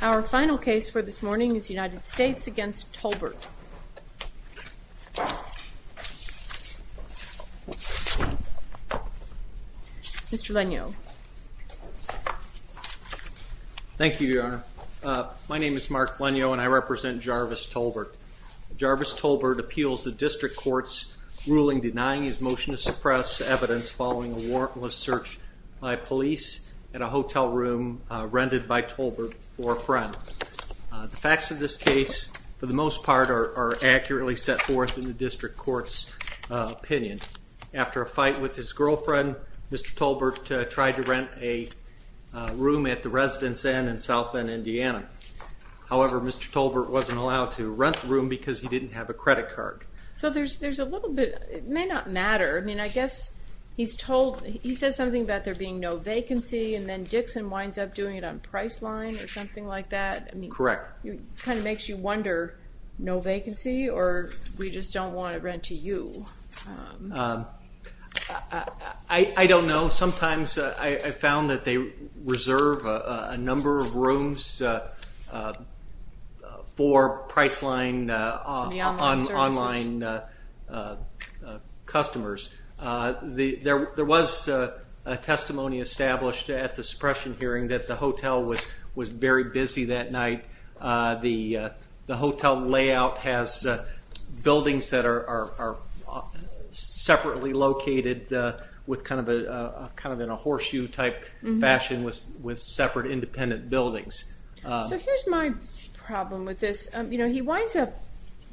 Our final case for this morning is United States v. Tolbert. Mr. Lenio. Thank you, Your Honor. My name is Mark Lenio and I represent Jarvis Tolbert. Jarvis Tolbert appeals the district court's ruling denying his motion to suppress evidence following a warrantless search by police at a hotel room rented by Tolbert for a friend. The facts of this case, for the most part, are accurately set forth in the district court's opinion. After a fight with his girlfriend, Mr. Tolbert tried to rent a room at the Residence Inn in South Bend, Indiana. However, Mr. Tolbert wasn't allowed to rent the room because he didn't have a credit card. So there's a little bit, it may not matter, I mean I guess he's told, he says something about there being no vacancy and then Dixon winds up doing it on Priceline or something like that. Correct. It kind of makes you wonder, no vacancy or we just don't want to rent to you? I don't know. Sometimes I found that they reserve a number of rooms for Priceline online customers. There was a testimony established at the suppression hearing that the hotel was very busy that night. The hotel layout has buildings that are separately located with kind of in a horseshoe type fashion with separate independent buildings. So here's my problem with this. He winds up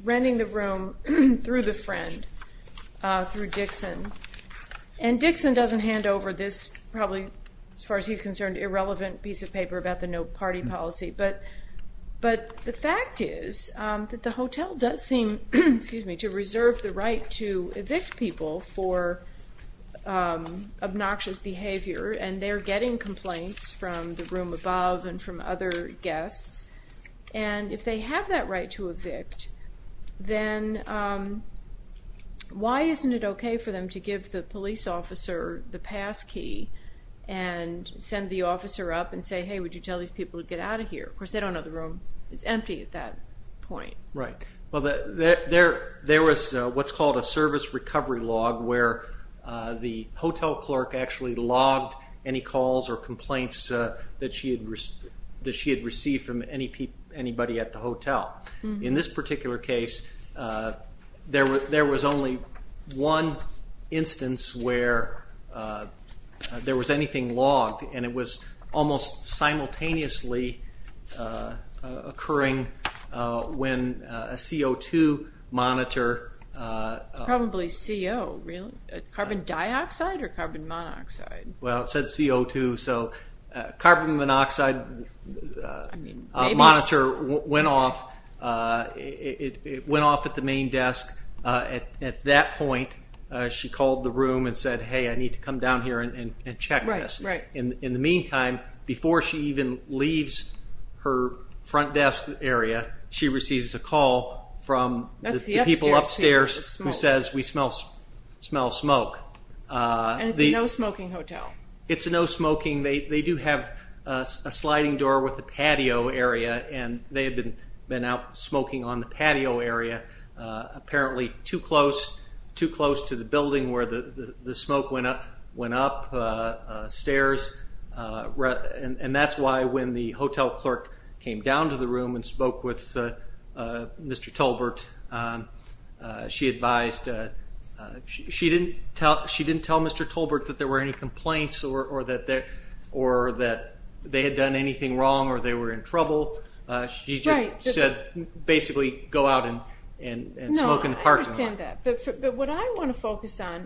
renting the room through the friend, through Dixon. And Dixon doesn't hand over this probably, as far as he's concerned, irrelevant piece of paper about the no party policy. But the fact is that the hotel does seem to reserve the right to evict people for obnoxious behavior and they're getting complaints from the room above and from other guests. And if they have that right to evict, then why isn't it okay for them to give the police officer the passkey and send the officer up and say, hey, would you tell these people to get out of here? Of course, they don't know the room is empty at that point. Right. Well, there was what's called a service recovery log where the hotel clerk actually logged any calls or complaints that she had received from anybody at the hotel. In this particular case, there was only one instance where there was anything logged and it was almost simultaneously occurring when a CO2 monitor... Carbon monoxide. Well, it said CO2, so carbon monoxide monitor went off. It went off at the main desk. At that point, she called the room and said, hey, I need to come down here and check this. Right, right. In the meantime, before she even leaves her front desk area, she receives a who says we smell smoke. And it's a no-smoking hotel. It's a no-smoking. They do have a sliding door with a patio area and they have been out smoking on the patio area, apparently too close to the building where the smoke went up stairs. And that's why when the hotel clerk came down to the room and spoke with Mr. Tolbert, she advised... She didn't tell Mr. Tolbert that there were any complaints or that they had done anything wrong or they were in trouble. Right. She just said basically go out and smoke in the parking lot. No, I understand that. But what I want to focus on,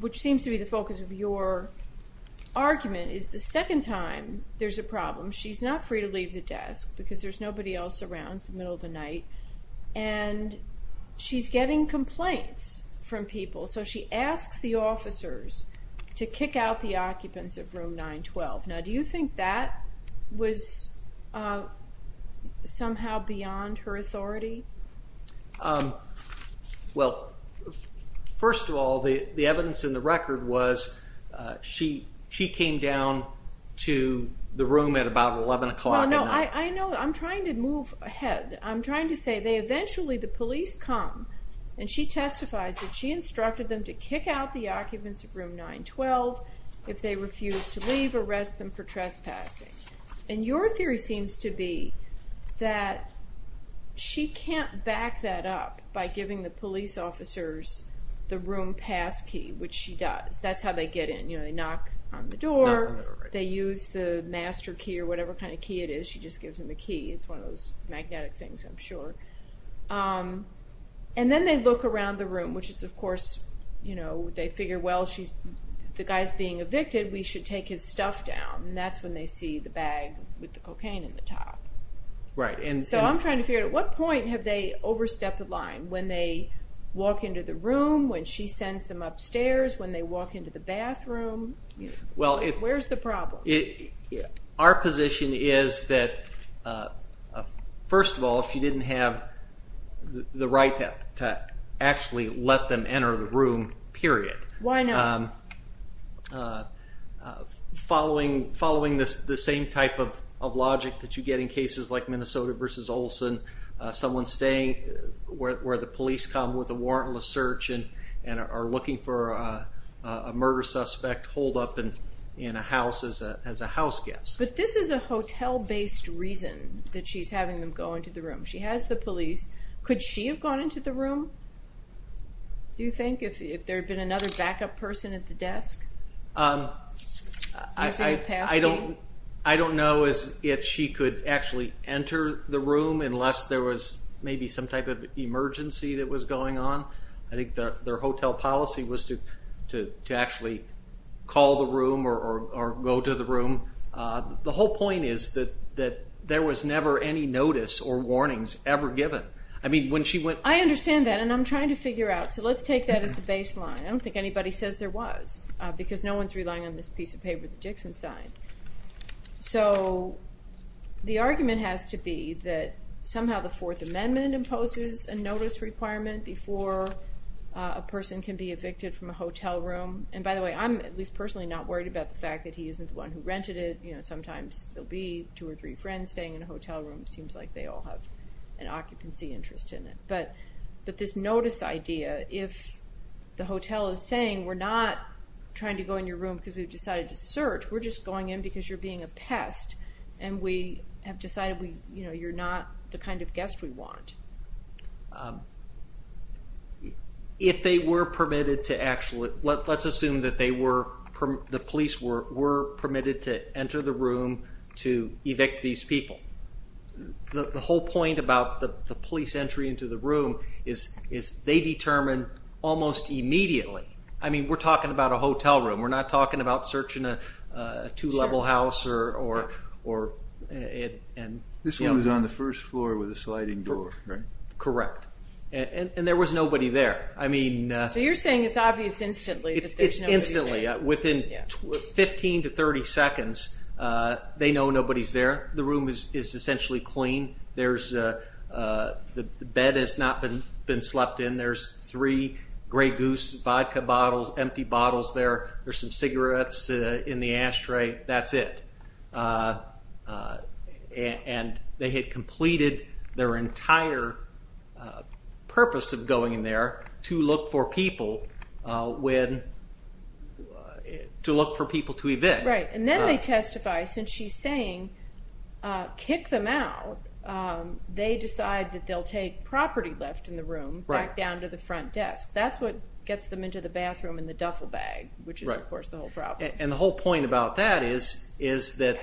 which seems to be the focus of your argument, is the second time there's a problem, she's not free to leave the desk because there's nobody else around, it's the middle of the night, and she's getting complaints from people. So she asks the officers to kick out the occupants of room 912. Now do you think that was somehow beyond her authority? Well, first of all, the evidence in the record was she came down to the room at about 11 o'clock at night. Well, no, I know. I'm trying to move ahead. I'm trying to say they eventually, the police come and she testifies that she instructed them to kick out the occupants of room 912. If they refuse to leave, arrest them for trespassing. And your theory seems to be that she can't back that up by giving the police officers the room pass key, which she does. That's how they get in. You know, they knock on the door, they use the master key or whatever kind of key it is. She just gives them the key. It's one of those magnetic things, I'm sure. And then they look around the room, which is of course, you know, they figure, well, the guy's being evicted, we should take his stuff down. And that's when they see the bag with the cocaine in the top. Right. So I'm trying to figure out at what point have they overstepped the line? When they walk into the room, when she sends them upstairs, when they walk into the bathroom, where's the problem? Our position is that, first of all, if you didn't have the right to actually let them enter the room, period. Why not? Following the same type of logic that you get in cases like Minnesota versus Olson, someone staying where the police come with a warrantless search and are looking for a murder suspect holed up in a house as a house guest. But this is a hotel-based reason that she's having them go into the room. She has the police. Could she have gone into the room, do you think, if there had been another backup person at the desk? I don't know if she could actually enter the room unless there was maybe some type of emergency that was going on. I think their hotel policy was to actually call the room or go to the room. The whole point is that there was never any notice or warnings ever given. I understand that, and I'm trying to figure out. So let's take that as the baseline. I don't think anybody says there was because no one's relying on this piece of paper that Dixon signed. So the argument has to be that somehow the Fourth Amendment imposes a notice requirement before a person can be evicted from a hotel room. By the way, I'm at least personally not worried about the fact that he isn't the one who rented it. Sometimes there will be two or three friends staying in a hotel room. It seems like they all have an occupancy interest in it. But this notice idea, if the hotel is saying, We're just going in because you're being a pest, and we have decided you're not the kind of guest we want. If they were permitted to actually, let's assume that they were, the police were permitted to enter the room to evict these people. The whole point about the police entry into the room is they determine almost immediately. I mean, we're talking about a hotel room. We're not talking about searching a two-level house. This one was on the first floor with a sliding door, right? Correct. And there was nobody there. So you're saying it's obvious instantly that there's nobody there. It's instantly. Within 15 to 30 seconds, they know nobody's there. The room is essentially clean. The bed has not been slept in. There's three Grey Goose vodka bottles, empty bottles there. There's some cigarettes in the ashtray. That's it. And they had completed their entire purpose of going in there to look for people to evict. Right. And then they testify, since she's saying kick them out, they decide that they'll take property left in the room back down to the front desk. That's what gets them into the bathroom in the duffel bag, which is, of course, the whole problem. And the whole point about that is that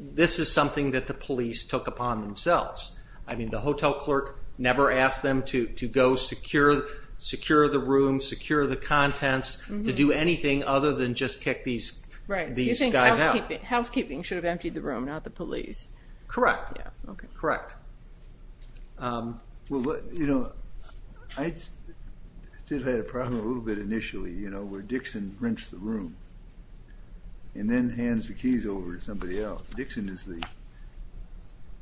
this is something that the police took upon themselves. I mean, the hotel clerk never asked them to go secure the room, secure the contents, to do anything other than just kick these guys out. Right. You think housekeeping should have emptied the room, not the police. Correct. Correct. Well, you know, I did have a problem a little bit initially, you know, where Dixon rents the room and then hands the keys over to somebody else. Dixon is the,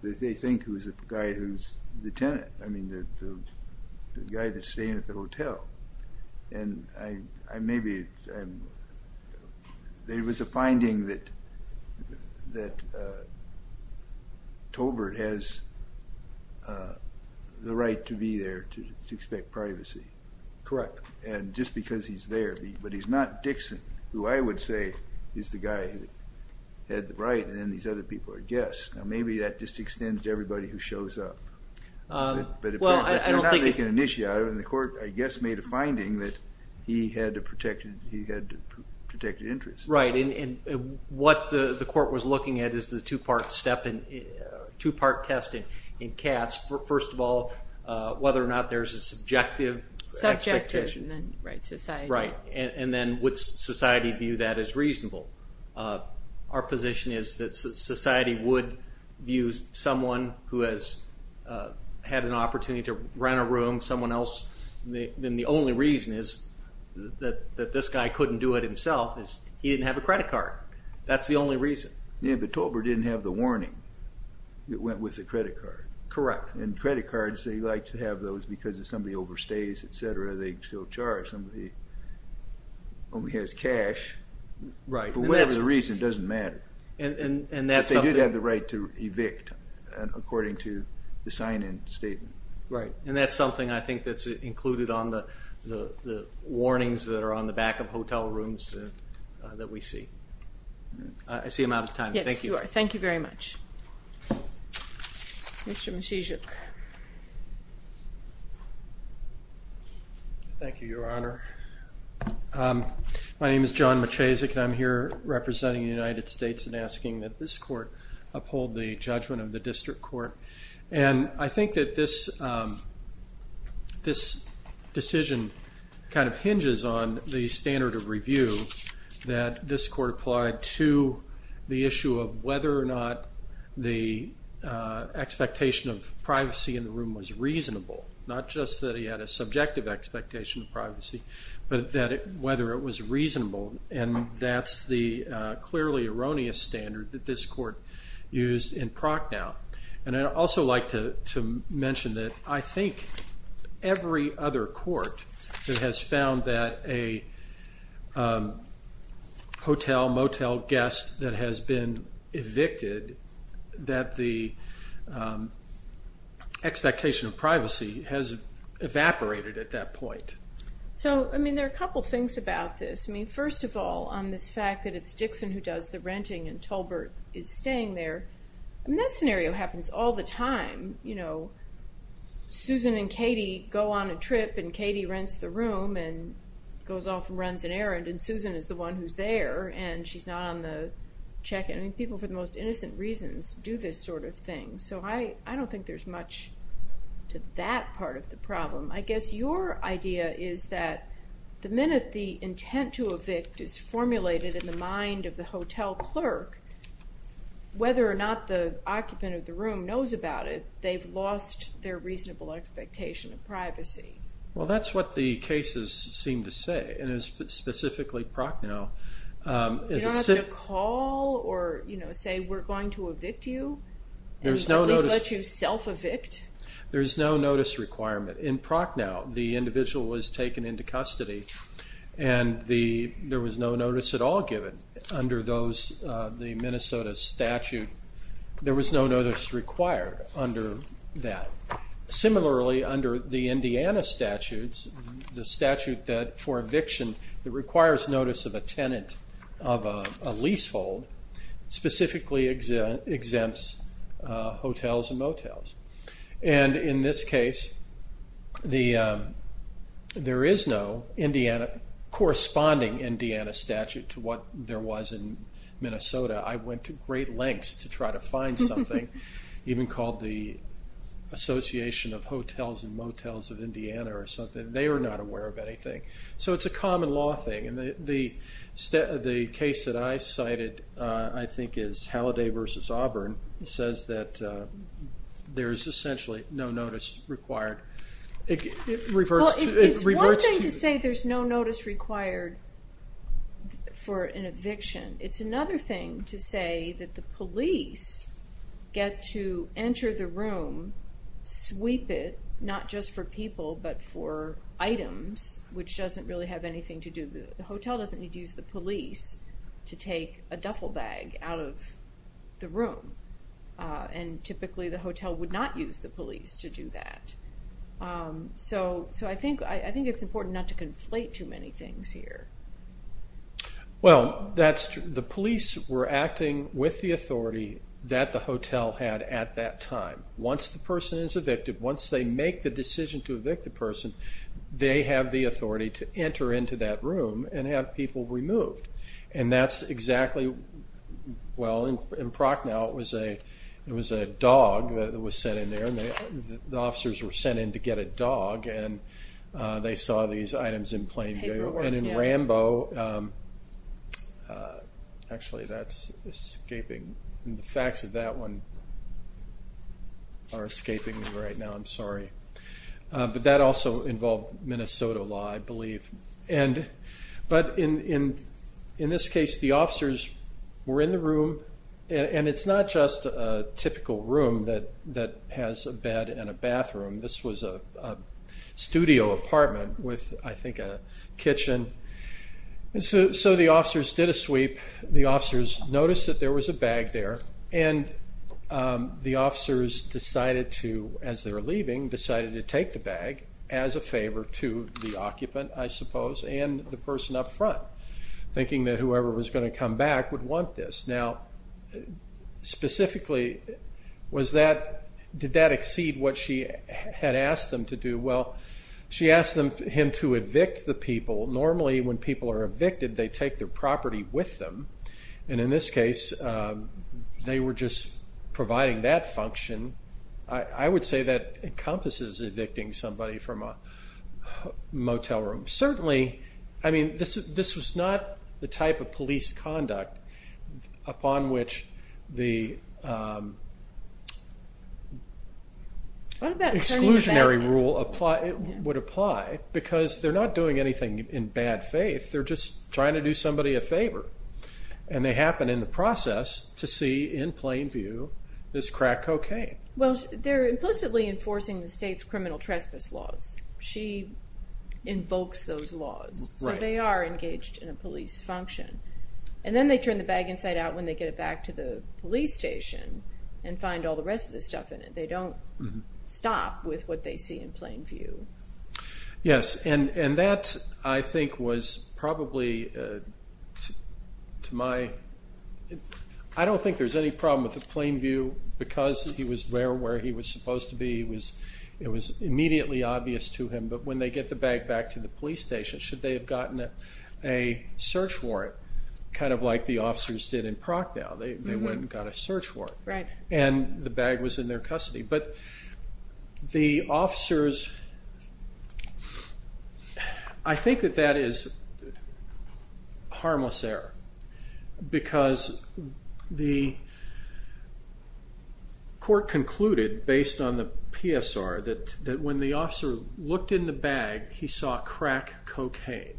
they think, who's the guy who's the tenant. I mean, the guy that's staying at the hotel. And I maybe, there was a finding that Tolbert has, the right to be there to expect privacy. Correct. And just because he's there, but he's not Dixon, who I would say is the guy who had the right, and then these other people are guests. Now maybe that just extends to everybody who shows up. Well, I don't think. But if they're not making an issue out of it, and the court, I guess, made a finding that he had a protected interest. Right. And what the court was looking at is the two-part step, two-part test in Katz. First of all, whether or not there's a subjective expectation. Subjective. Right. And then would society view that as reasonable? Our position is that society would view someone who has had an opportunity to rent a room, someone else, then the only reason is that this guy couldn't do it himself. He didn't have a credit card. That's the only reason. Yeah, but Tolbert didn't have the warning that went with the credit card. Correct. And credit cards, they like to have those because if somebody overstays, et cetera, they still charge somebody who only has cash. Right. For whatever the reason, it doesn't matter. And that's something. But they did have the right to evict, according to the sign-in statement. Right. And that's something I think that's included on the warnings that are on the back of hotel rooms that we see. I see I'm out of time. Yes, you are. Thank you very much. Mr. Maciejuk. Thank you, Your Honor. My name is John Maciejuk, and I'm here representing the United States and asking that this court uphold the judgment of the district court. And I think that this decision kind of hinges on the standard of review that this court applied to the issue of whether or not the expectation of privacy in the room was reasonable. Not just that he had a subjective expectation of privacy, but whether it was reasonable. And that's the clearly erroneous standard that this court used in Proc now. And I'd also like to mention that I think every other court that has found that a hotel, motel guest that has been evicted, that the expectation of privacy has evaporated at that point. So, I mean, there are a couple things about this. I mean, first of all, on this fact that it's Dixon who does the renting and Tolbert is staying there. I mean, that scenario happens all the time. You know, Susan and Katie go on a trip and Katie rents the room and goes off and runs an errand, and Susan is the one who's there and she's not on the check-in. I mean, people for the most innocent reasons do this sort of thing. So I don't think there's much to that part of the problem. I guess your idea is that the minute the intent to evict is formulated in the mind of the hotel clerk, whether or not the occupant of the room knows about it, they've lost their reasonable expectation of privacy. Well, that's what the cases seem to say, and it's specifically Proc now. You don't have to call or say we're going to evict you and let you self-evict. There's no notice requirement. In Proc now, the individual was taken into custody and there was no notice at all given under the Minnesota statute. There was no notice required under that. Similarly, under the Indiana statutes, the statute for eviction that requires notice of a tenant of a leasehold specifically exempts hotels and motels. In this case, there is no corresponding Indiana statute to what there was in Minnesota. I went to great lengths to try to find something, even called the Association of Hotels and Motels of Indiana or something. They were not aware of anything. So it's a common law thing. The case that I cited, I think, is Halliday v. Auburn. It says that there is essentially no notice required. Well, it's one thing to say there's no notice required for an eviction. It's another thing to say that the police get to enter the room, sweep it, not just for people but for items, which doesn't really have anything to do with it. The hotel doesn't need to use the police to take a duffel bag out of the room, and typically the hotel would not use the police to do that. So I think it's important not to conflate too many things here. Well, the police were acting with the authority that the hotel had at that time. Once the person is evicted, once they make the decision to evict the person, they have the authority to enter into that room and have people removed. And that's exactly, well, in Procknell it was a dog that was sent in there. The officers were sent in to get a dog, and they saw these items in plain view. And in Rambo, actually that's escaping. The facts of that one are escaping me right now. I'm sorry. But that also involved Minnesota law, I believe. But in this case, the officers were in the room, and it's not just a typical room that has a bed and a bathroom. This was a studio apartment with, I think, a kitchen. So the officers did a sweep. The officers noticed that there was a bag there, and the officers decided to, as they were leaving, decided to take the bag as a favor to the occupant, I suppose, and the person up front, thinking that whoever was going to come back would want this. Now, specifically, did that exceed what she had asked them to do? Well, she asked him to evict the people. Normally, when people are evicted, they take their property with them. And in this case, they were just providing that function. I would say that encompasses evicting somebody from a motel room. Certainly, I mean, this was not the type of police conduct upon which the exclusionary rule would apply, because they're not doing anything in bad faith. They're just trying to do somebody a favor, and they happen in the process to see, in plain view, this crack cocaine. Well, they're implicitly enforcing the state's criminal trespass laws. She invokes those laws, so they are engaged in a police function. And then they turn the bag inside out when they get it back to the police station and find all the rest of the stuff in it. They don't stop with what they see in plain view. Yes, and that, I think, was probably, to my – I don't think there's any problem with the plain view, because he was there where he was supposed to be. It was immediately obvious to him. But when they get the bag back to the police station, should they have gotten a search warrant, kind of like the officers did in Prague now? They went and got a search warrant, and the bag was in their custody. But the officers – I think that that is harmless error, because the court concluded, based on the PSR, that when the officer looked in the bag, he saw crack cocaine,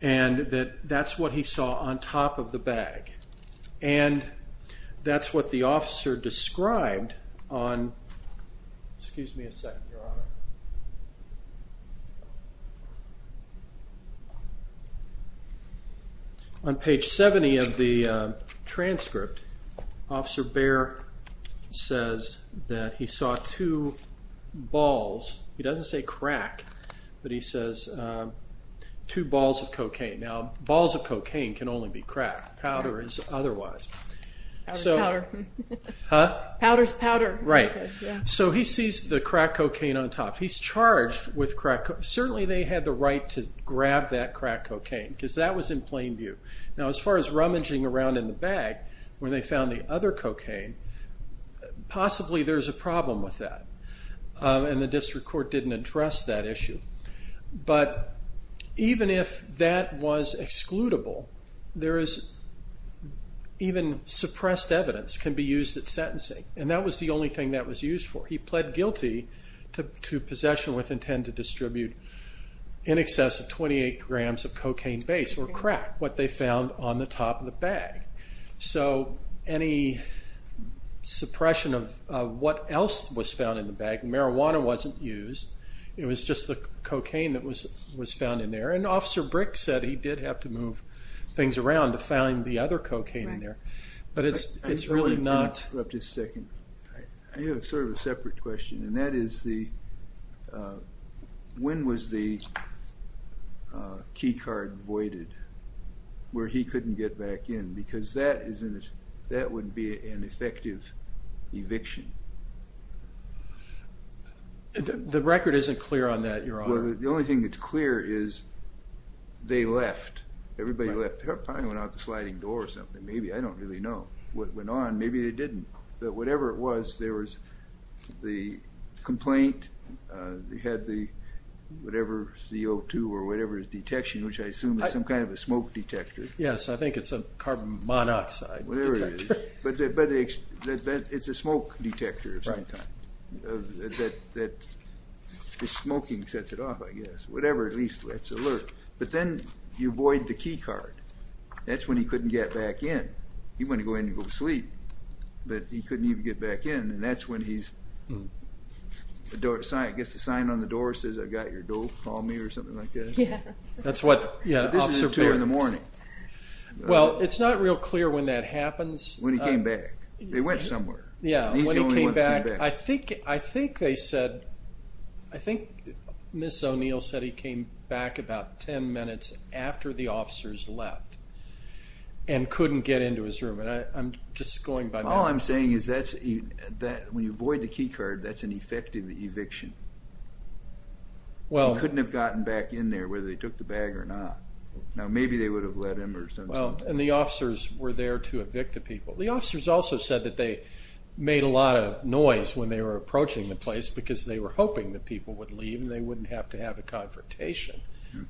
and that that's what he saw on top of the bag. And that's what the officer described on – excuse me a second, Your Honor. On page 70 of the transcript, Officer Baer says that he saw two balls – he doesn't say crack, but he says two balls of cocaine. Now, balls of cocaine can only be crack. Powder is otherwise. Powder is powder. Huh? Powder is powder, he said. Right. So he sees the crack cocaine on top. He's charged with crack – certainly they had the right to grab that crack cocaine, because that was in plain view. Now, as far as rummaging around in the bag, where they found the other cocaine, possibly there's a problem with that, and the district court didn't address that issue. But even if that was excludable, there is – even suppressed evidence can be used at sentencing, and that was the only thing that was used for. He pled guilty to possession with intent to distribute in excess of 28 grams of cocaine base, or crack, what they found on the top of the bag. So any suppression of what else was found in the bag – marijuana wasn't used, it was just the cocaine that was found in there. And Officer Brick said he did have to move things around to find the other cocaine in there. Right. But it's really not – Can I interrupt just a second? I have sort of a separate question, and that is the – when was the key card voided, where he couldn't get back in? Because that would be an effective eviction. The record isn't clear on that, Your Honor. Well, the only thing that's clear is they left. Everybody left. They probably went out the sliding door or something, maybe. I don't really know what went on. Maybe they didn't. But whatever it was, there was the complaint, they had the whatever CO2 or whatever detection, which I assume is some kind of a smoke detector. Yes, I think it's a carbon monoxide detector. Whatever it is. But it's a smoke detector at the same time. Right. The smoking sets it off, I guess. Whatever at least lets alert. But then you void the key card. That's when he couldn't get back in. He wanted to go in and go to sleep, but he couldn't even get back in, and that's when he gets the sign on the door, says, I've got your dope. Call me or something like that. Yeah. That's what – But this is 2 in the morning. Well, it's not real clear when that happens. When he came back. They went somewhere. Yeah, when he came back, I think they said, I think Ms. O'Neill said he came back about 10 minutes after the officers left and couldn't get into his room. And I'm just going by now. All I'm saying is that when you void the key card, that's an effective eviction. Well – He couldn't have gotten back in there whether they took the bag or not. Now, maybe they would have let him or something. And the officers were there to evict the people. The officers also said that they made a lot of noise when they were approaching the place because they were hoping the people would leave and they wouldn't have to have a confrontation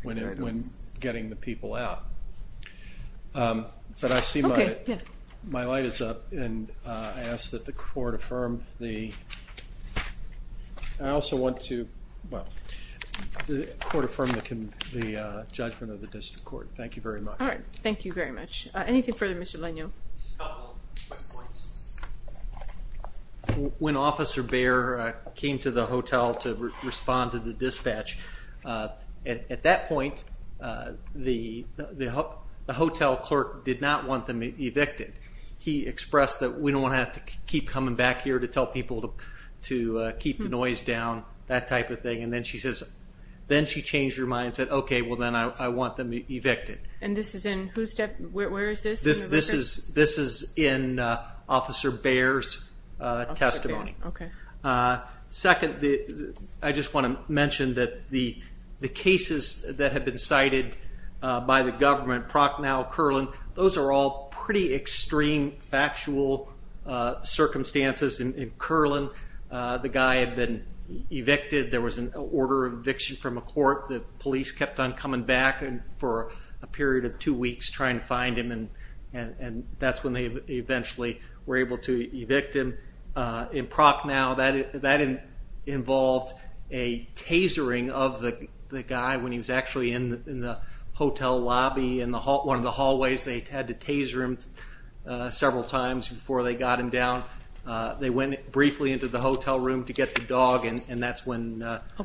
when getting the people out. But I see my light is up, and I ask that the court affirm the – I also want to, well, the court affirm the judgment of the district court. Thank you very much. All right. Thank you very much. Anything further, Mr. Lanio? Just a couple quick points. When Officer Baer came to the hotel to respond to the dispatch, at that point the hotel clerk did not want them evicted. He expressed that we don't want to have to keep coming back here to tell people to keep the noise down, that type of thing. And then she says – then she changed her mind and said, okay, well, then I want them evicted. And this is in whose – where is this? This is in Officer Baer's testimony. Okay. Second, I just want to mention that the cases that have been cited by the government, Procknell, Curlin, those are all pretty extreme factual circumstances. In Curlin, the guy had been evicted. There was an order of eviction from a court. The police kept on coming back for a period of two weeks trying to find him, and that's when they eventually were able to evict him. In Procknell, that involved a tasering of the guy when he was actually in the hotel lobby in one of the hallways. They had to taser him several times before they got him down. They went briefly into the hotel room to get the dog, and that's when –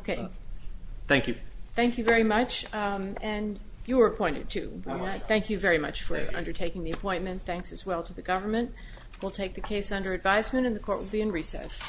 Thank you. Thank you very much. And you were appointed too. Thank you very much for undertaking the appointment. Thanks as well to the government. We'll take the case under advisement, and the court will be in recess.